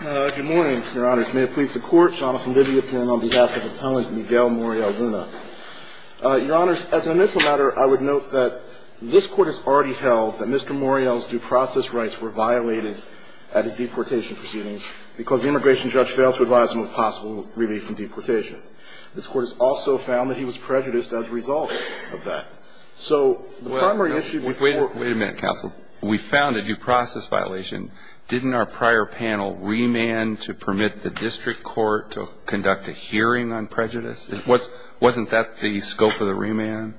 Good morning, Your Honors. May it please the Court, Jonathan Liddyapin on behalf of Appellant Miguel Moriel-Luna. Your Honors, as an initial matter, I would note that this Court has already held that Mr. Moriel's due process rights were violated at his deportation proceedings because the immigration judge failed to advise him of possible relief from deportation. This Court has also found that he was prejudiced as a result of that. So the primary issue with- Wait a minute, counsel. We found a due process violation. Didn't our prior panel remand to permit the district court to conduct a hearing on prejudice? Wasn't that the scope of the remand?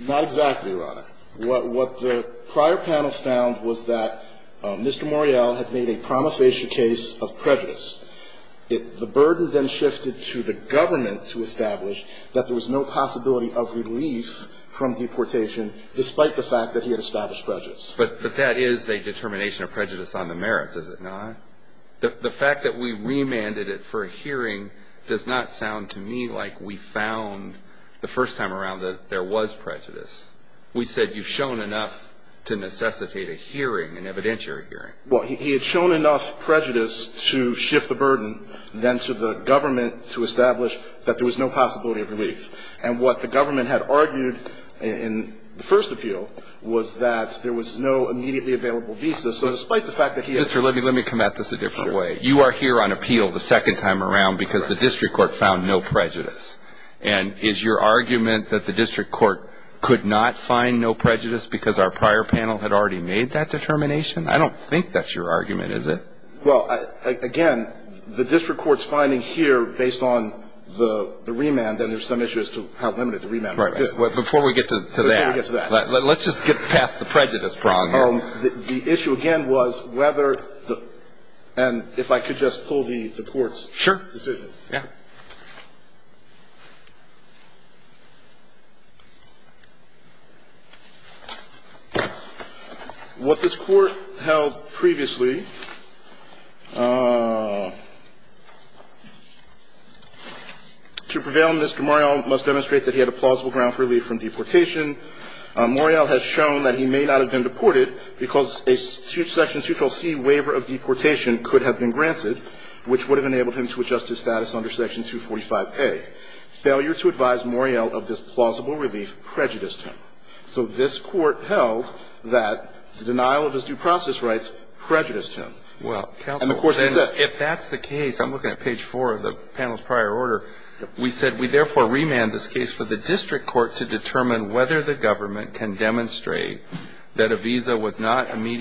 Not exactly, Your Honor. What the prior panel found was that Mr. Moriel had made a promofacial case of prejudice. The burden then shifted to the government to establish that there was no possibility of relief from deportation despite the fact that he had established prejudice. But that is a determination of prejudice on the merits, is it not? The fact that we remanded it for a hearing does not sound to me like we found the first time around that there was prejudice. We said you've shown enough to necessitate a hearing, an evidentiary hearing. Well, he had shown enough prejudice to shift the burden then to the government to establish that there was no possibility of relief. And what the government had argued in the first appeal was that there was no immediately available visa. So despite the fact that he- Mr. Libby, let me come at this a different way. You are here on appeal the second time around because the district court found no prejudice. And is your argument that the district court could not find no prejudice because our prior panel had already made that determination? I don't think that's your argument, is it? Well, again, the district court's finding here, based on the remand, then there's some issue as to how limited the remand- Right. Before we get to that- Before we get to that. Let's just get past the prejudice problem here. The issue again was whether the- and if I could just pull the court's- Sure. Yeah. What this Court held previously, to prevail, Mr. Morreale must demonstrate that he had a plausible ground for relief from deportation. Morreale has shown that he may not have been deported because a section 212c waiver of deportation could have been granted, which would have enabled him to adjust his status under section 245a. Failure to advise Morreale of this plausible relief prejudiced him. So this Court held that the denial of his due process rights prejudiced him. Well, counsel- And of course he said- If that's the case, I'm looking at page 4 of the panel's prior order. We said we therefore remand this case for the district court to determine whether the government can demonstrate that a visa was not And the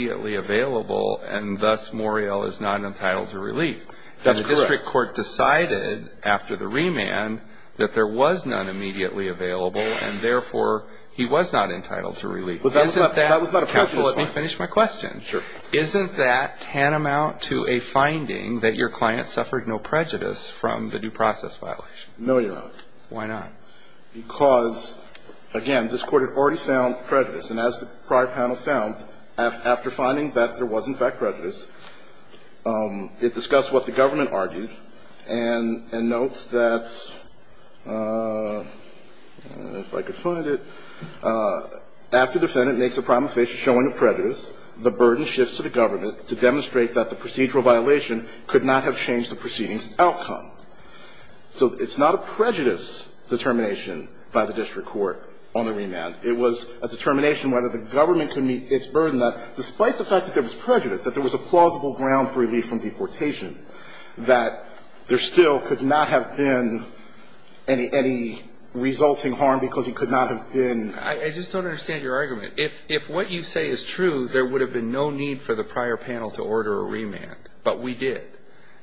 district court decided after the remand that there was none immediately available, and therefore he was not entitled to relief. Isn't that- That was not a prejudice claim. Counsel, let me finish my question. Sure. Isn't that tantamount to a finding that your client suffered no prejudice from the due process violation? No, Your Honor. Why not? Because, again, this Court had already found prejudice. And as the prior panel found, after finding that there was, in fact, prejudice, it discussed what the government argued, and notes that, if I could find it, after defendant makes a prima facie showing of prejudice, the burden shifts to the government to demonstrate that the procedural violation could not have changed the proceeding's outcome. So it's not a prejudice determination by the district court on the remand. It was a determination whether the government could meet its burden that, despite the fact that there was prejudice, that there was a plausible ground for relief from deportation, that there still could not have been any resulting harm because he could not have been- I just don't understand your argument. If what you say is true, there would have been no need for the prior panel to order a remand. But we did.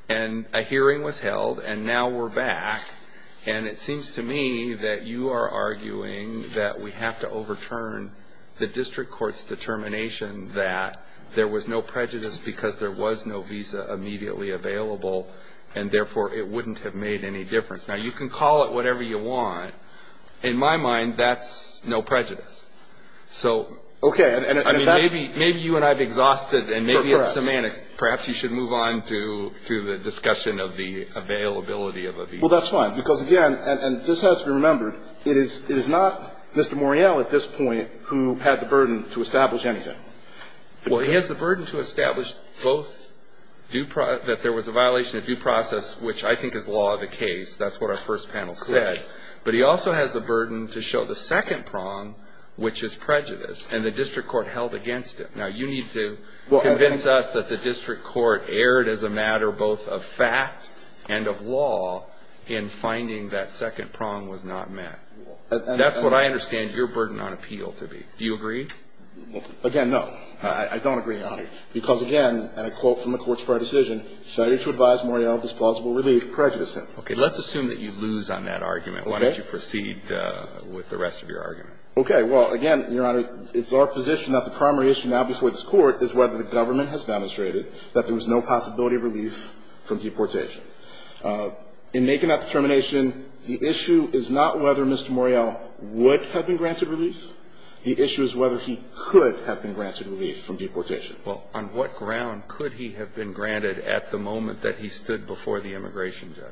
And a hearing was held, and now we're back. And it seems to me that you are arguing that we have to overturn the district court's determination that there was no prejudice because there was no visa immediately available, and, therefore, it wouldn't have made any difference. Now, you can call it whatever you want. In my mind, that's no prejudice. So, I mean, maybe you and I have exhausted- Perhaps. Perhaps you should move on to the discussion of the availability of a visa. Well, that's fine because, again, and this has to be remembered, it is not Mr. Morreale at this point who had the burden to establish anything. Well, he has the burden to establish both that there was a violation of due process, which I think is law of the case. That's what our first panel said. Correct. But he also has the burden to show the second prong, which is prejudice, and the district court held against it. Now, you need to convince us that the district court erred as a matter both of fact and of law in finding that second prong was not met. That's what I understand your burden on appeal to be. Do you agree? Again, no. I don't agree, Your Honor, because, again, and a quote from the Court's prior decision, failure to advise Morreale of this plausible relief prejudiced him. Okay. Let's assume that you lose on that argument. Why don't you proceed with the rest of your argument? Okay. Well, again, Your Honor, it's our position that the primary issue now before this Court is whether the government has demonstrated that there was no possibility of relief from deportation. In making that determination, the issue is not whether Mr. Morreale would have been granted relief. The issue is whether he could have been granted relief from deportation. Well, on what ground could he have been granted at the moment that he stood before the immigration judge?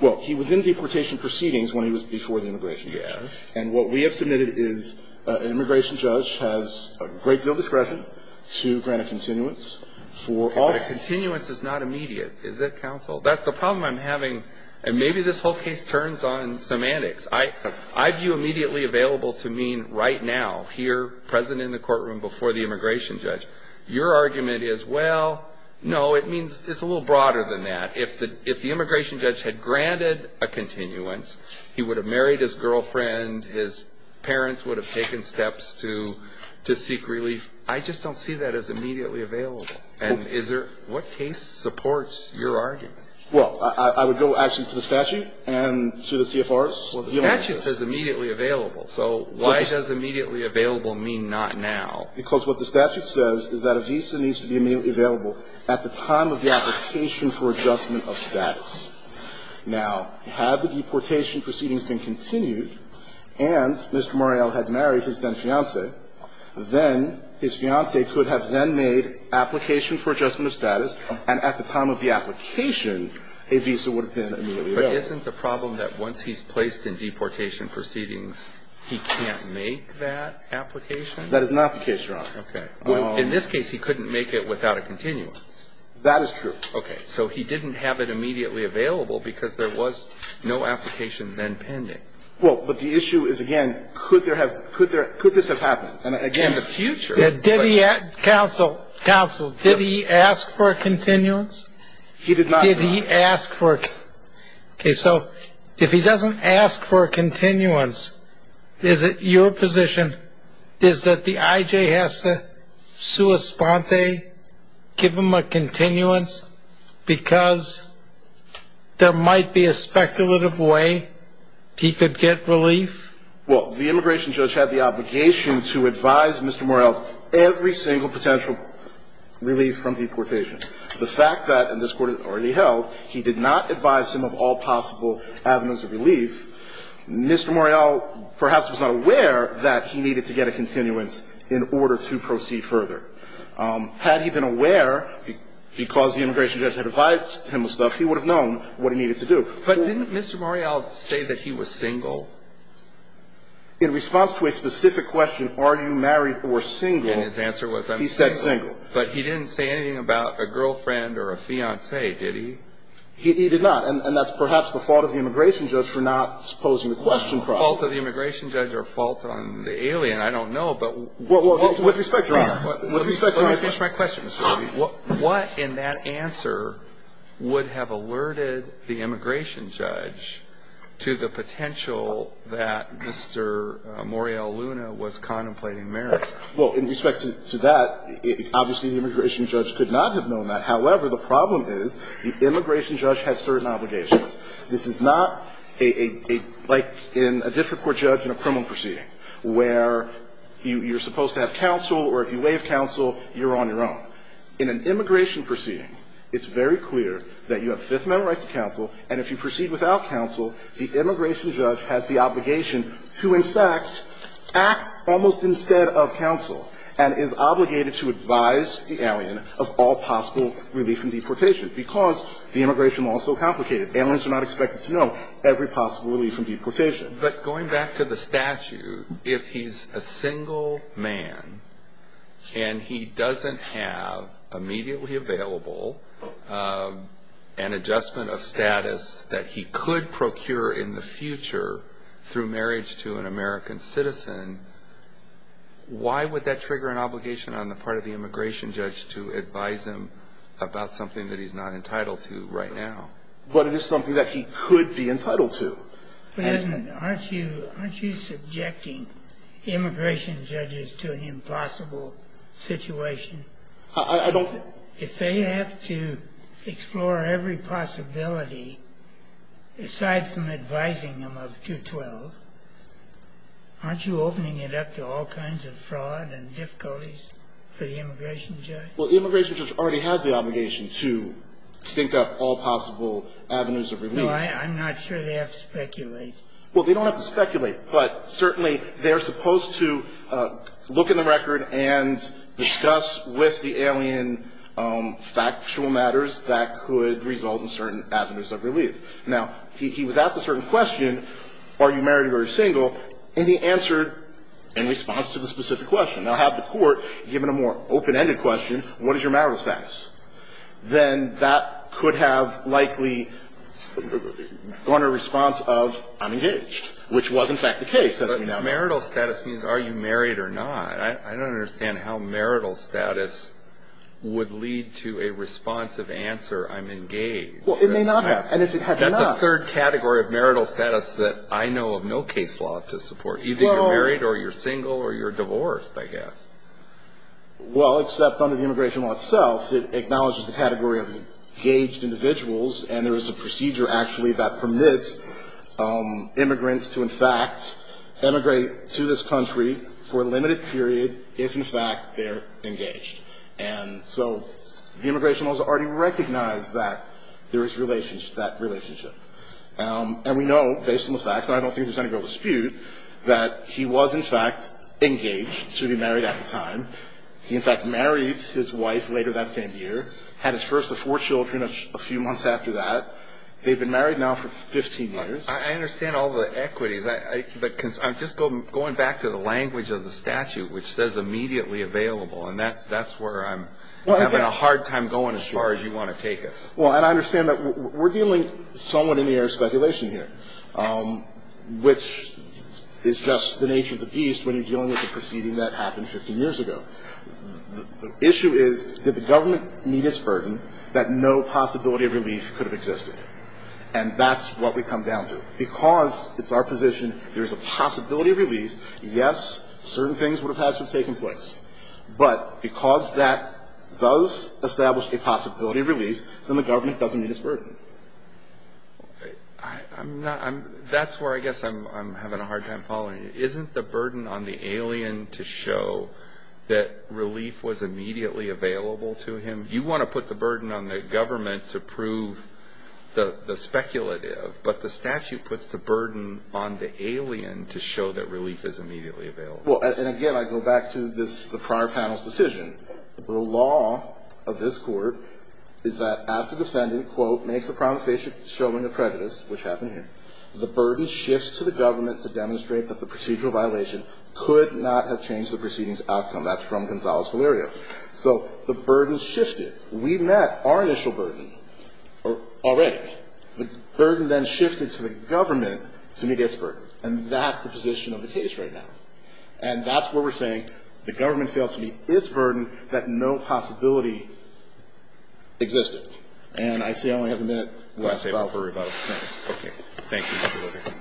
Well, he was in deportation proceedings when he was before the immigration judge. Yes. And what we have submitted is an immigration judge has a great deal of discretion to grant a continuance. A continuance is not immediate, is it, counsel? The problem I'm having, and maybe this whole case turns on semantics, I view immediately available to mean right now, here, present in the courtroom before the immigration judge. Your argument is, well, no, it means it's a little broader than that. If the immigration judge had granted a continuance, he would have married his girlfriend, his parents would have taken steps to seek relief. I just don't see that as immediately available. And what case supports your argument? Well, I would go, actually, to the statute and to the CFRs. Well, the statute says immediately available. So why does immediately available mean not now? Because what the statute says is that a visa needs to be immediately available at the time of the application for adjustment of status. Now, had the deportation proceedings been continued and Mr. Muriel had married his then-fiancé, then his fiancé could have then made application for adjustment of status, and at the time of the application, a visa would have been immediately available. But isn't the problem that once he's placed in deportation proceedings, he can't make that application? That is not the case, Your Honor. In this case, he couldn't make it without a continuance. That is true. Okay. So he didn't have it immediately available because there was no application then pending. Well, but the issue is, again, could this have happened? In the future. Counsel, counsel, did he ask for a continuance? He did not. Did he ask for it? Okay. So if he doesn't ask for a continuance, is it your position is that the IJ has to sui sponte, give him a continuance, because there might be a speculative way he could get relief? Well, the immigration judge had the obligation to advise Mr. Muriel of every single potential relief from deportation. The fact that, and this Court has already held, he did not advise him of all possible avenues of relief. Mr. Muriel perhaps was not aware that he needed to get a continuance in order to proceed further. Had he been aware, because the immigration judge had advised him of stuff, he would have known what he needed to do. But didn't Mr. Muriel say that he was single? In response to a specific question, are you married or single? And his answer was I'm single. He said single. But he didn't say anything about a girlfriend or a fiancé, did he? He did not. And that's perhaps the fault of the immigration judge for not posing the question properly. Fault of the immigration judge or fault on the alien, I don't know. What's the spectrum? Let me finish my question. What in that answer would have alerted the immigration judge to the potential that Mr. Muriel Luna was contemplating marriage? Well, in respect to that, obviously the immigration judge could not have known that. However, the problem is the immigration judge has certain obligations. This is not a, like in a district court judge in a criminal proceeding where you are supposed to have counsel or if you waive counsel, you're on your own. In an immigration proceeding, it's very clear that you have Fifth Amendment right to counsel. And if you proceed without counsel, the immigration judge has the obligation to, in fact, act almost instead of counsel and is obligated to advise the alien of all possible relief from deportation because the immigration law is so complicated. Aliens are not expected to know every possible relief from deportation. But going back to the statute, if he's a single man and he doesn't have immediately available an adjustment of status that he could procure in the future through marriage to an American citizen, why would that trigger an obligation on the part of the immigration judge to advise him about something that he's not entitled to right now? But it is something that he could be entitled to. But isn't it? Aren't you subjecting immigration judges to an impossible situation? I don't think so. If they have to explore every possibility, aside from advising them of 212, aren't you opening it up to all kinds of fraud and difficulties for the immigration judge? Well, the immigration judge already has the obligation to think up all possible avenues of relief. I'm not sure they have to speculate. Well, they don't have to speculate. But certainly they're supposed to look in the record and discuss with the alien factual matters that could result in certain avenues of relief. Now, he was asked a certain question, are you married or are you single, and he answered in response to the specific question. Now, have the Court given a more open-ended question, what is your marital status? Then that could have likely gone in response of I'm engaged, which was in fact the case, as we now know. But marital status means are you married or not. I don't understand how marital status would lead to a responsive answer, I'm engaged. Well, it may not have. And if it had not. That's a third category of marital status that I know of no case law to support. Either you're married or you're single or you're divorced, I guess. Well, except under the Immigration Law itself, it acknowledges the category of engaged individuals, and there is a procedure actually that permits immigrants to in fact emigrate to this country for a limited period if in fact they're engaged. And so the Immigration Law has already recognized that there is that relationship. And we know, based on the facts, and I don't think there's any real dispute, that he was in fact engaged to be married at the time. He in fact married his wife later that same year, had his first of four children a few months after that. They've been married now for 15 years. I understand all the equities, but I'm just going back to the language of the statute, which says immediately available, and that's where I'm having a hard time going as far as you want to take us. Well, and I understand that we're dealing somewhat in the area of speculation here, which is just the nature of the beast when you're dealing with a proceeding that happened 15 years ago. The issue is, did the government meet its burden that no possibility of relief could have existed? And that's what we come down to. Because it's our position there is a possibility of relief, yes, certain things would have had to have taken place. But because that does establish a possibility of relief, then the government doesn't meet its burden. That's where I guess I'm having a hard time following you. Isn't the burden on the alien to show that relief was immediately available to him? You want to put the burden on the government to prove the speculative, but the statute puts the burden on the alien to show that relief is immediately available. Well, and again, I go back to the prior panel's decision. The law of this Court is that after defendant, quote, makes a promissory showing of prejudice, which happened here, the burden shifts to the government to demonstrate that the procedural violation could not have changed the proceeding's outcome. That's from Gonzales-Valerio. So the burden shifted. We met our initial burden already. The burden then shifted to the government to meet its burden. And that's the position of the case right now. And that's what we're saying. The government failed to meet its burden that no possibility existed. And I see I only have a minute left. I say we worry about it. Okay. Thank you.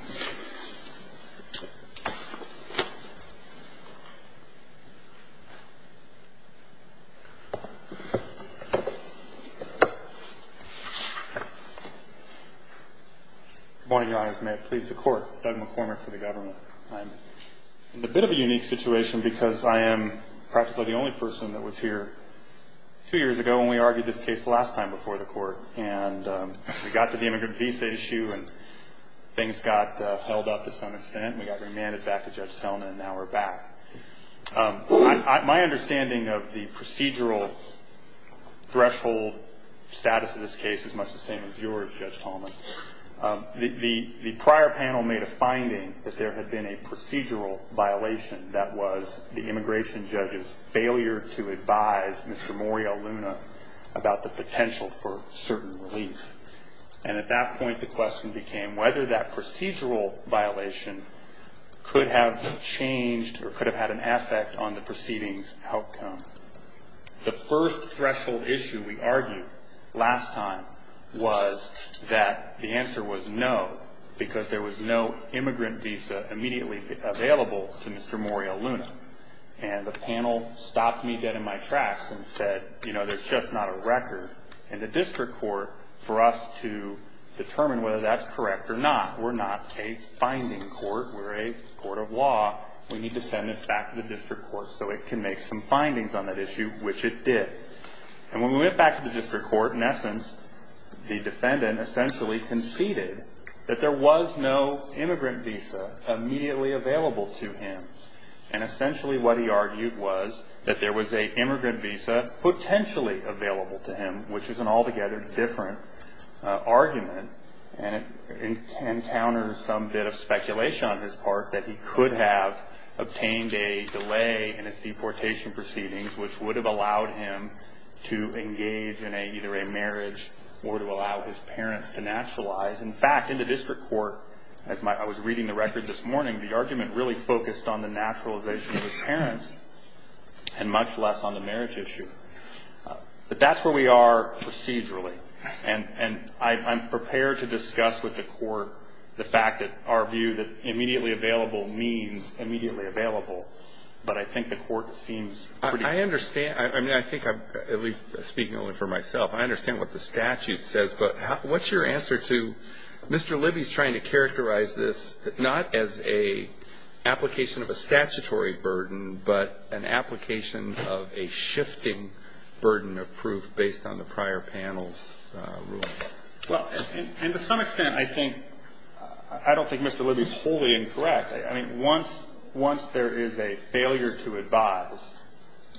Good morning, Your Honor. May it please the Court. Doug McCormick for the government. I'm in a bit of a unique situation because I am practically the only person that was here two years ago when we argued this case the last time before the Court. And we got to the immigrant visa issue, and things got held up to some extent, and we got remanded back to Judge Tallman, and now we're back. My understanding of the procedural threshold status of this case is much the same as yours, Judge Tallman. The prior panel made a finding that there had been a procedural violation that was the immigration judge's failure to advise Mr. Morial Luna about the potential for certain relief. And at that point, the question became whether that procedural violation could have changed or could have had an effect on the proceedings outcome. The first threshold issue we argued last time was that the answer was no because there was no immigrant visa immediately available to Mr. Morial Luna. And the panel stopped me dead in my tracks and said, you know, there's just not a record in the district court for us to determine whether that's correct or not. We're not a finding court. We're a court of law. We need to send this back to the district court so it can make some findings on that issue, which it did. And when we went back to the district court, in essence, the defendant essentially conceded that there was no immigrant visa immediately available to him. And essentially what he argued was that there was a immigrant visa potentially available to him, which is an altogether different argument, and it encounters some bit of speculation on his part that he could have obtained a delay in his deportation proceedings, which would have allowed him to engage in either a marriage or to allow his parents to naturalize. In fact, in the district court, as I was reading the record this morning, the argument really focused on the naturalization of his parents and much less on the marriage issue. But that's where we are procedurally. And I'm prepared to discuss with the court the fact that our view that immediately available means immediately available, but I think the court seems pretty clear. I understand. I mean, I think I'm at least speaking only for myself. I understand what the statute says, but what's your answer to Mr. Libby's trying to characterize this not as an application of a statutory burden, but an application of a shifting burden of proof based on the prior panel's ruling? Well, and to some extent, I think, I don't think Mr. Libby's wholly incorrect. I mean, once there is a failure to advise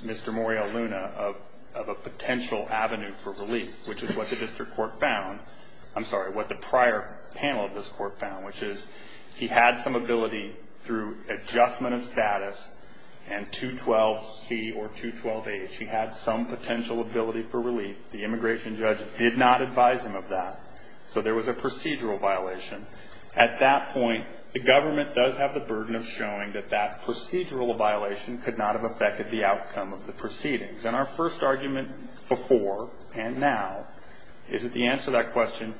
Mr. Morial Luna of a potential avenue for relief, which is what the district court found, I'm sorry, what the prior panel of this court found, which is he had some ability through adjustment of status and 212C or 212H. He had some potential ability for relief. The immigration judge did not advise him of that. So there was a procedural violation. At that point, the government does have the burden of showing that that procedural violation could not have affected the outcome of the proceedings. And our first argument before and now is that the answer to that question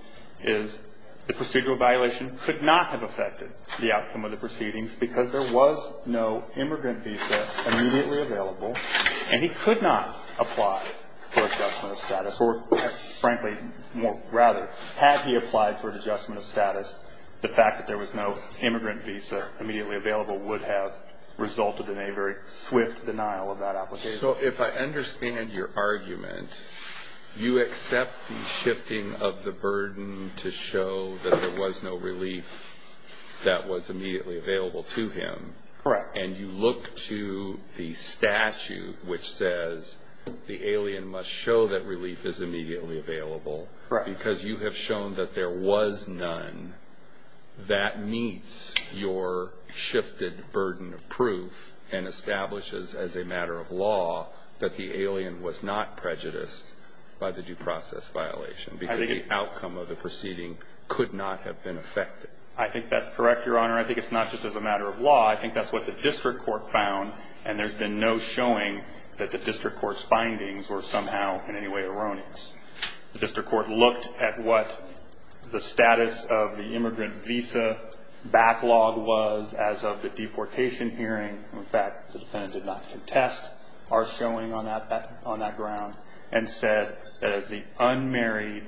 is the procedural violation could not have affected the outcome of the proceedings because there was no immigrant visa immediately available and he could not apply for adjustment of status. Or, frankly, rather, had he applied for an adjustment of status, the fact that there was no immigrant visa immediately available would have resulted in a very swift denial of that application. So if I understand your argument, you accept the shifting of the burden to show that there was no relief that was immediately available to him. Correct. And you look to the statute which says the alien must show that relief is immediately available. Correct. Because you have shown that there was none. That meets your shifted burden of proof and establishes as a matter of law that the alien was not prejudiced by the due process violation because the outcome of the proceeding could not have been affected. I think that's correct, Your Honor. I think it's not just as a matter of law. I think that's what the district court found, and there's been no showing that the district court's findings were somehow in any way erroneous. The district court looked at what the status of the immigrant visa backlog was as of the deportation hearing. In fact, the defendant did not contest our showing on that ground and said that as the unmarried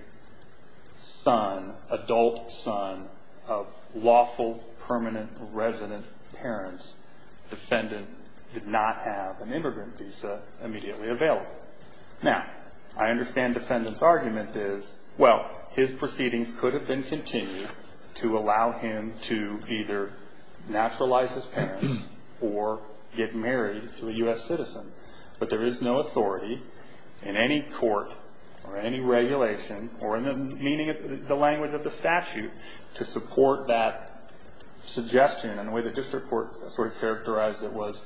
adult son of lawful permanent resident parents, the defendant did not have an immigrant visa immediately available. Now, I understand the defendant's argument is, well, his proceedings could have been continued to allow him to either naturalize his parents or get married to a U.S. citizen, but there is no authority in any court or any regulation or in the language of the statute to support that suggestion. And the way the district court sort of characterized it was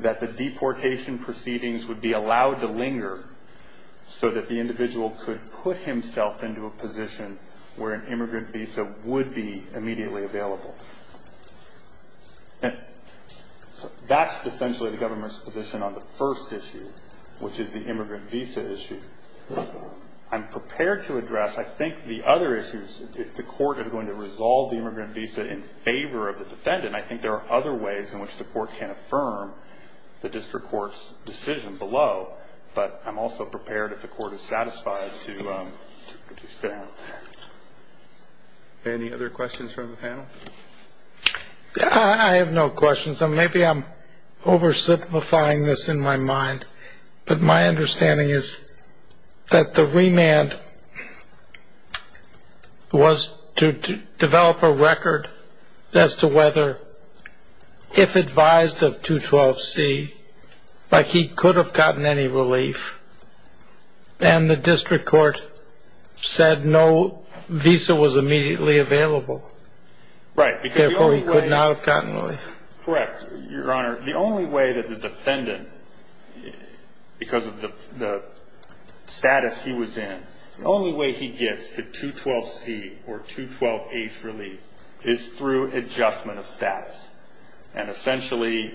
that the deportation proceedings would be allowed to linger so that the individual could put himself into a position where an immigrant visa would be immediately available. So that's essentially the government's position on the first issue, which is the immigrant visa issue. I'm prepared to address, I think, the other issues if the court is going to resolve the immigrant visa in favor of the defendant. And I think there are other ways in which the court can affirm the district court's decision below, but I'm also prepared if the court is satisfied to sit down with that. Any other questions from the panel? I have no questions. Maybe I'm oversimplifying this in my mind, but my understanding is that the remand was to develop a record as to whether, if advised of 212C, like he could have gotten any relief, and the district court said no visa was immediately available. Right. Therefore he could not have gotten relief. Correct. Your Honor, the only way that the defendant, because of the status he was in, the only way he gets the 212C or 212H relief is through adjustment of status. And essentially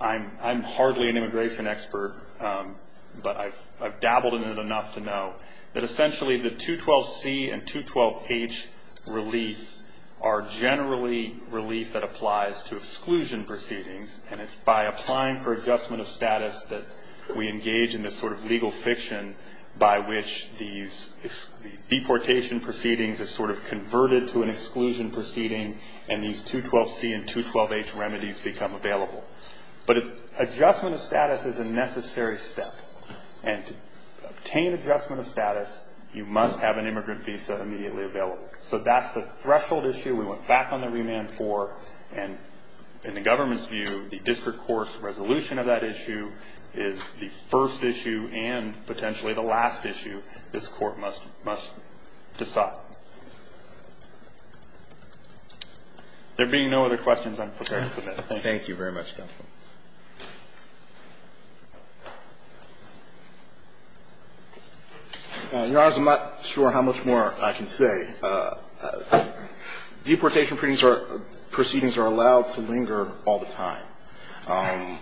I'm hardly an immigration expert, but I've dabbled in it enough to know that essentially the 212C and 212H relief are generally relief that applies to exclusion proceedings, and it's by applying for adjustment of status that we engage in this sort of legal fiction by which these deportation proceedings are sort of converted to an exclusion proceeding and these 212C and 212H remedies become available. But adjustment of status is a necessary step. And to obtain adjustment of status, you must have an immigrant visa immediately available. So that's the threshold issue we went back on the remand for, and in the government's view the district court's resolution of that issue is the first issue and potentially the last issue this court must decide. There being no other questions, I'm prepared to submit. Thank you very much, counsel. Your Honor, I'm not sure how much more I can say. Deportation proceedings are allowed to linger all the time.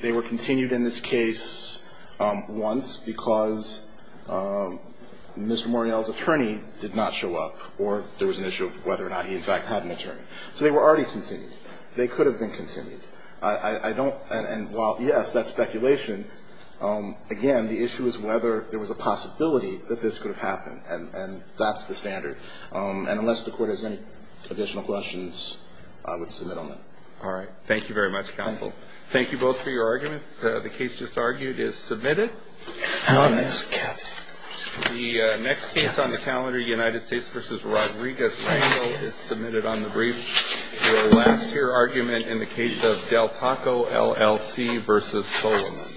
They were continued in this case once because Mr. Morreale's attorney did not show up or there was an issue of whether or not he in fact had an attorney. So they were already continued. They could have been continued. I don't – and while, yes, that's speculation, again, the issue is whether there was a possibility that this could have happened. And that's the standard. And unless the Court has any additional questions, I would submit on that. All right. Thank you very much, counsel. Thank you both for your argument. The case just argued is submitted. The next case on the calendar, United States v. Rodriguez-Rangel, is submitted on the brief for the last-year argument in the case of Del Taco, LLC v. Solomon.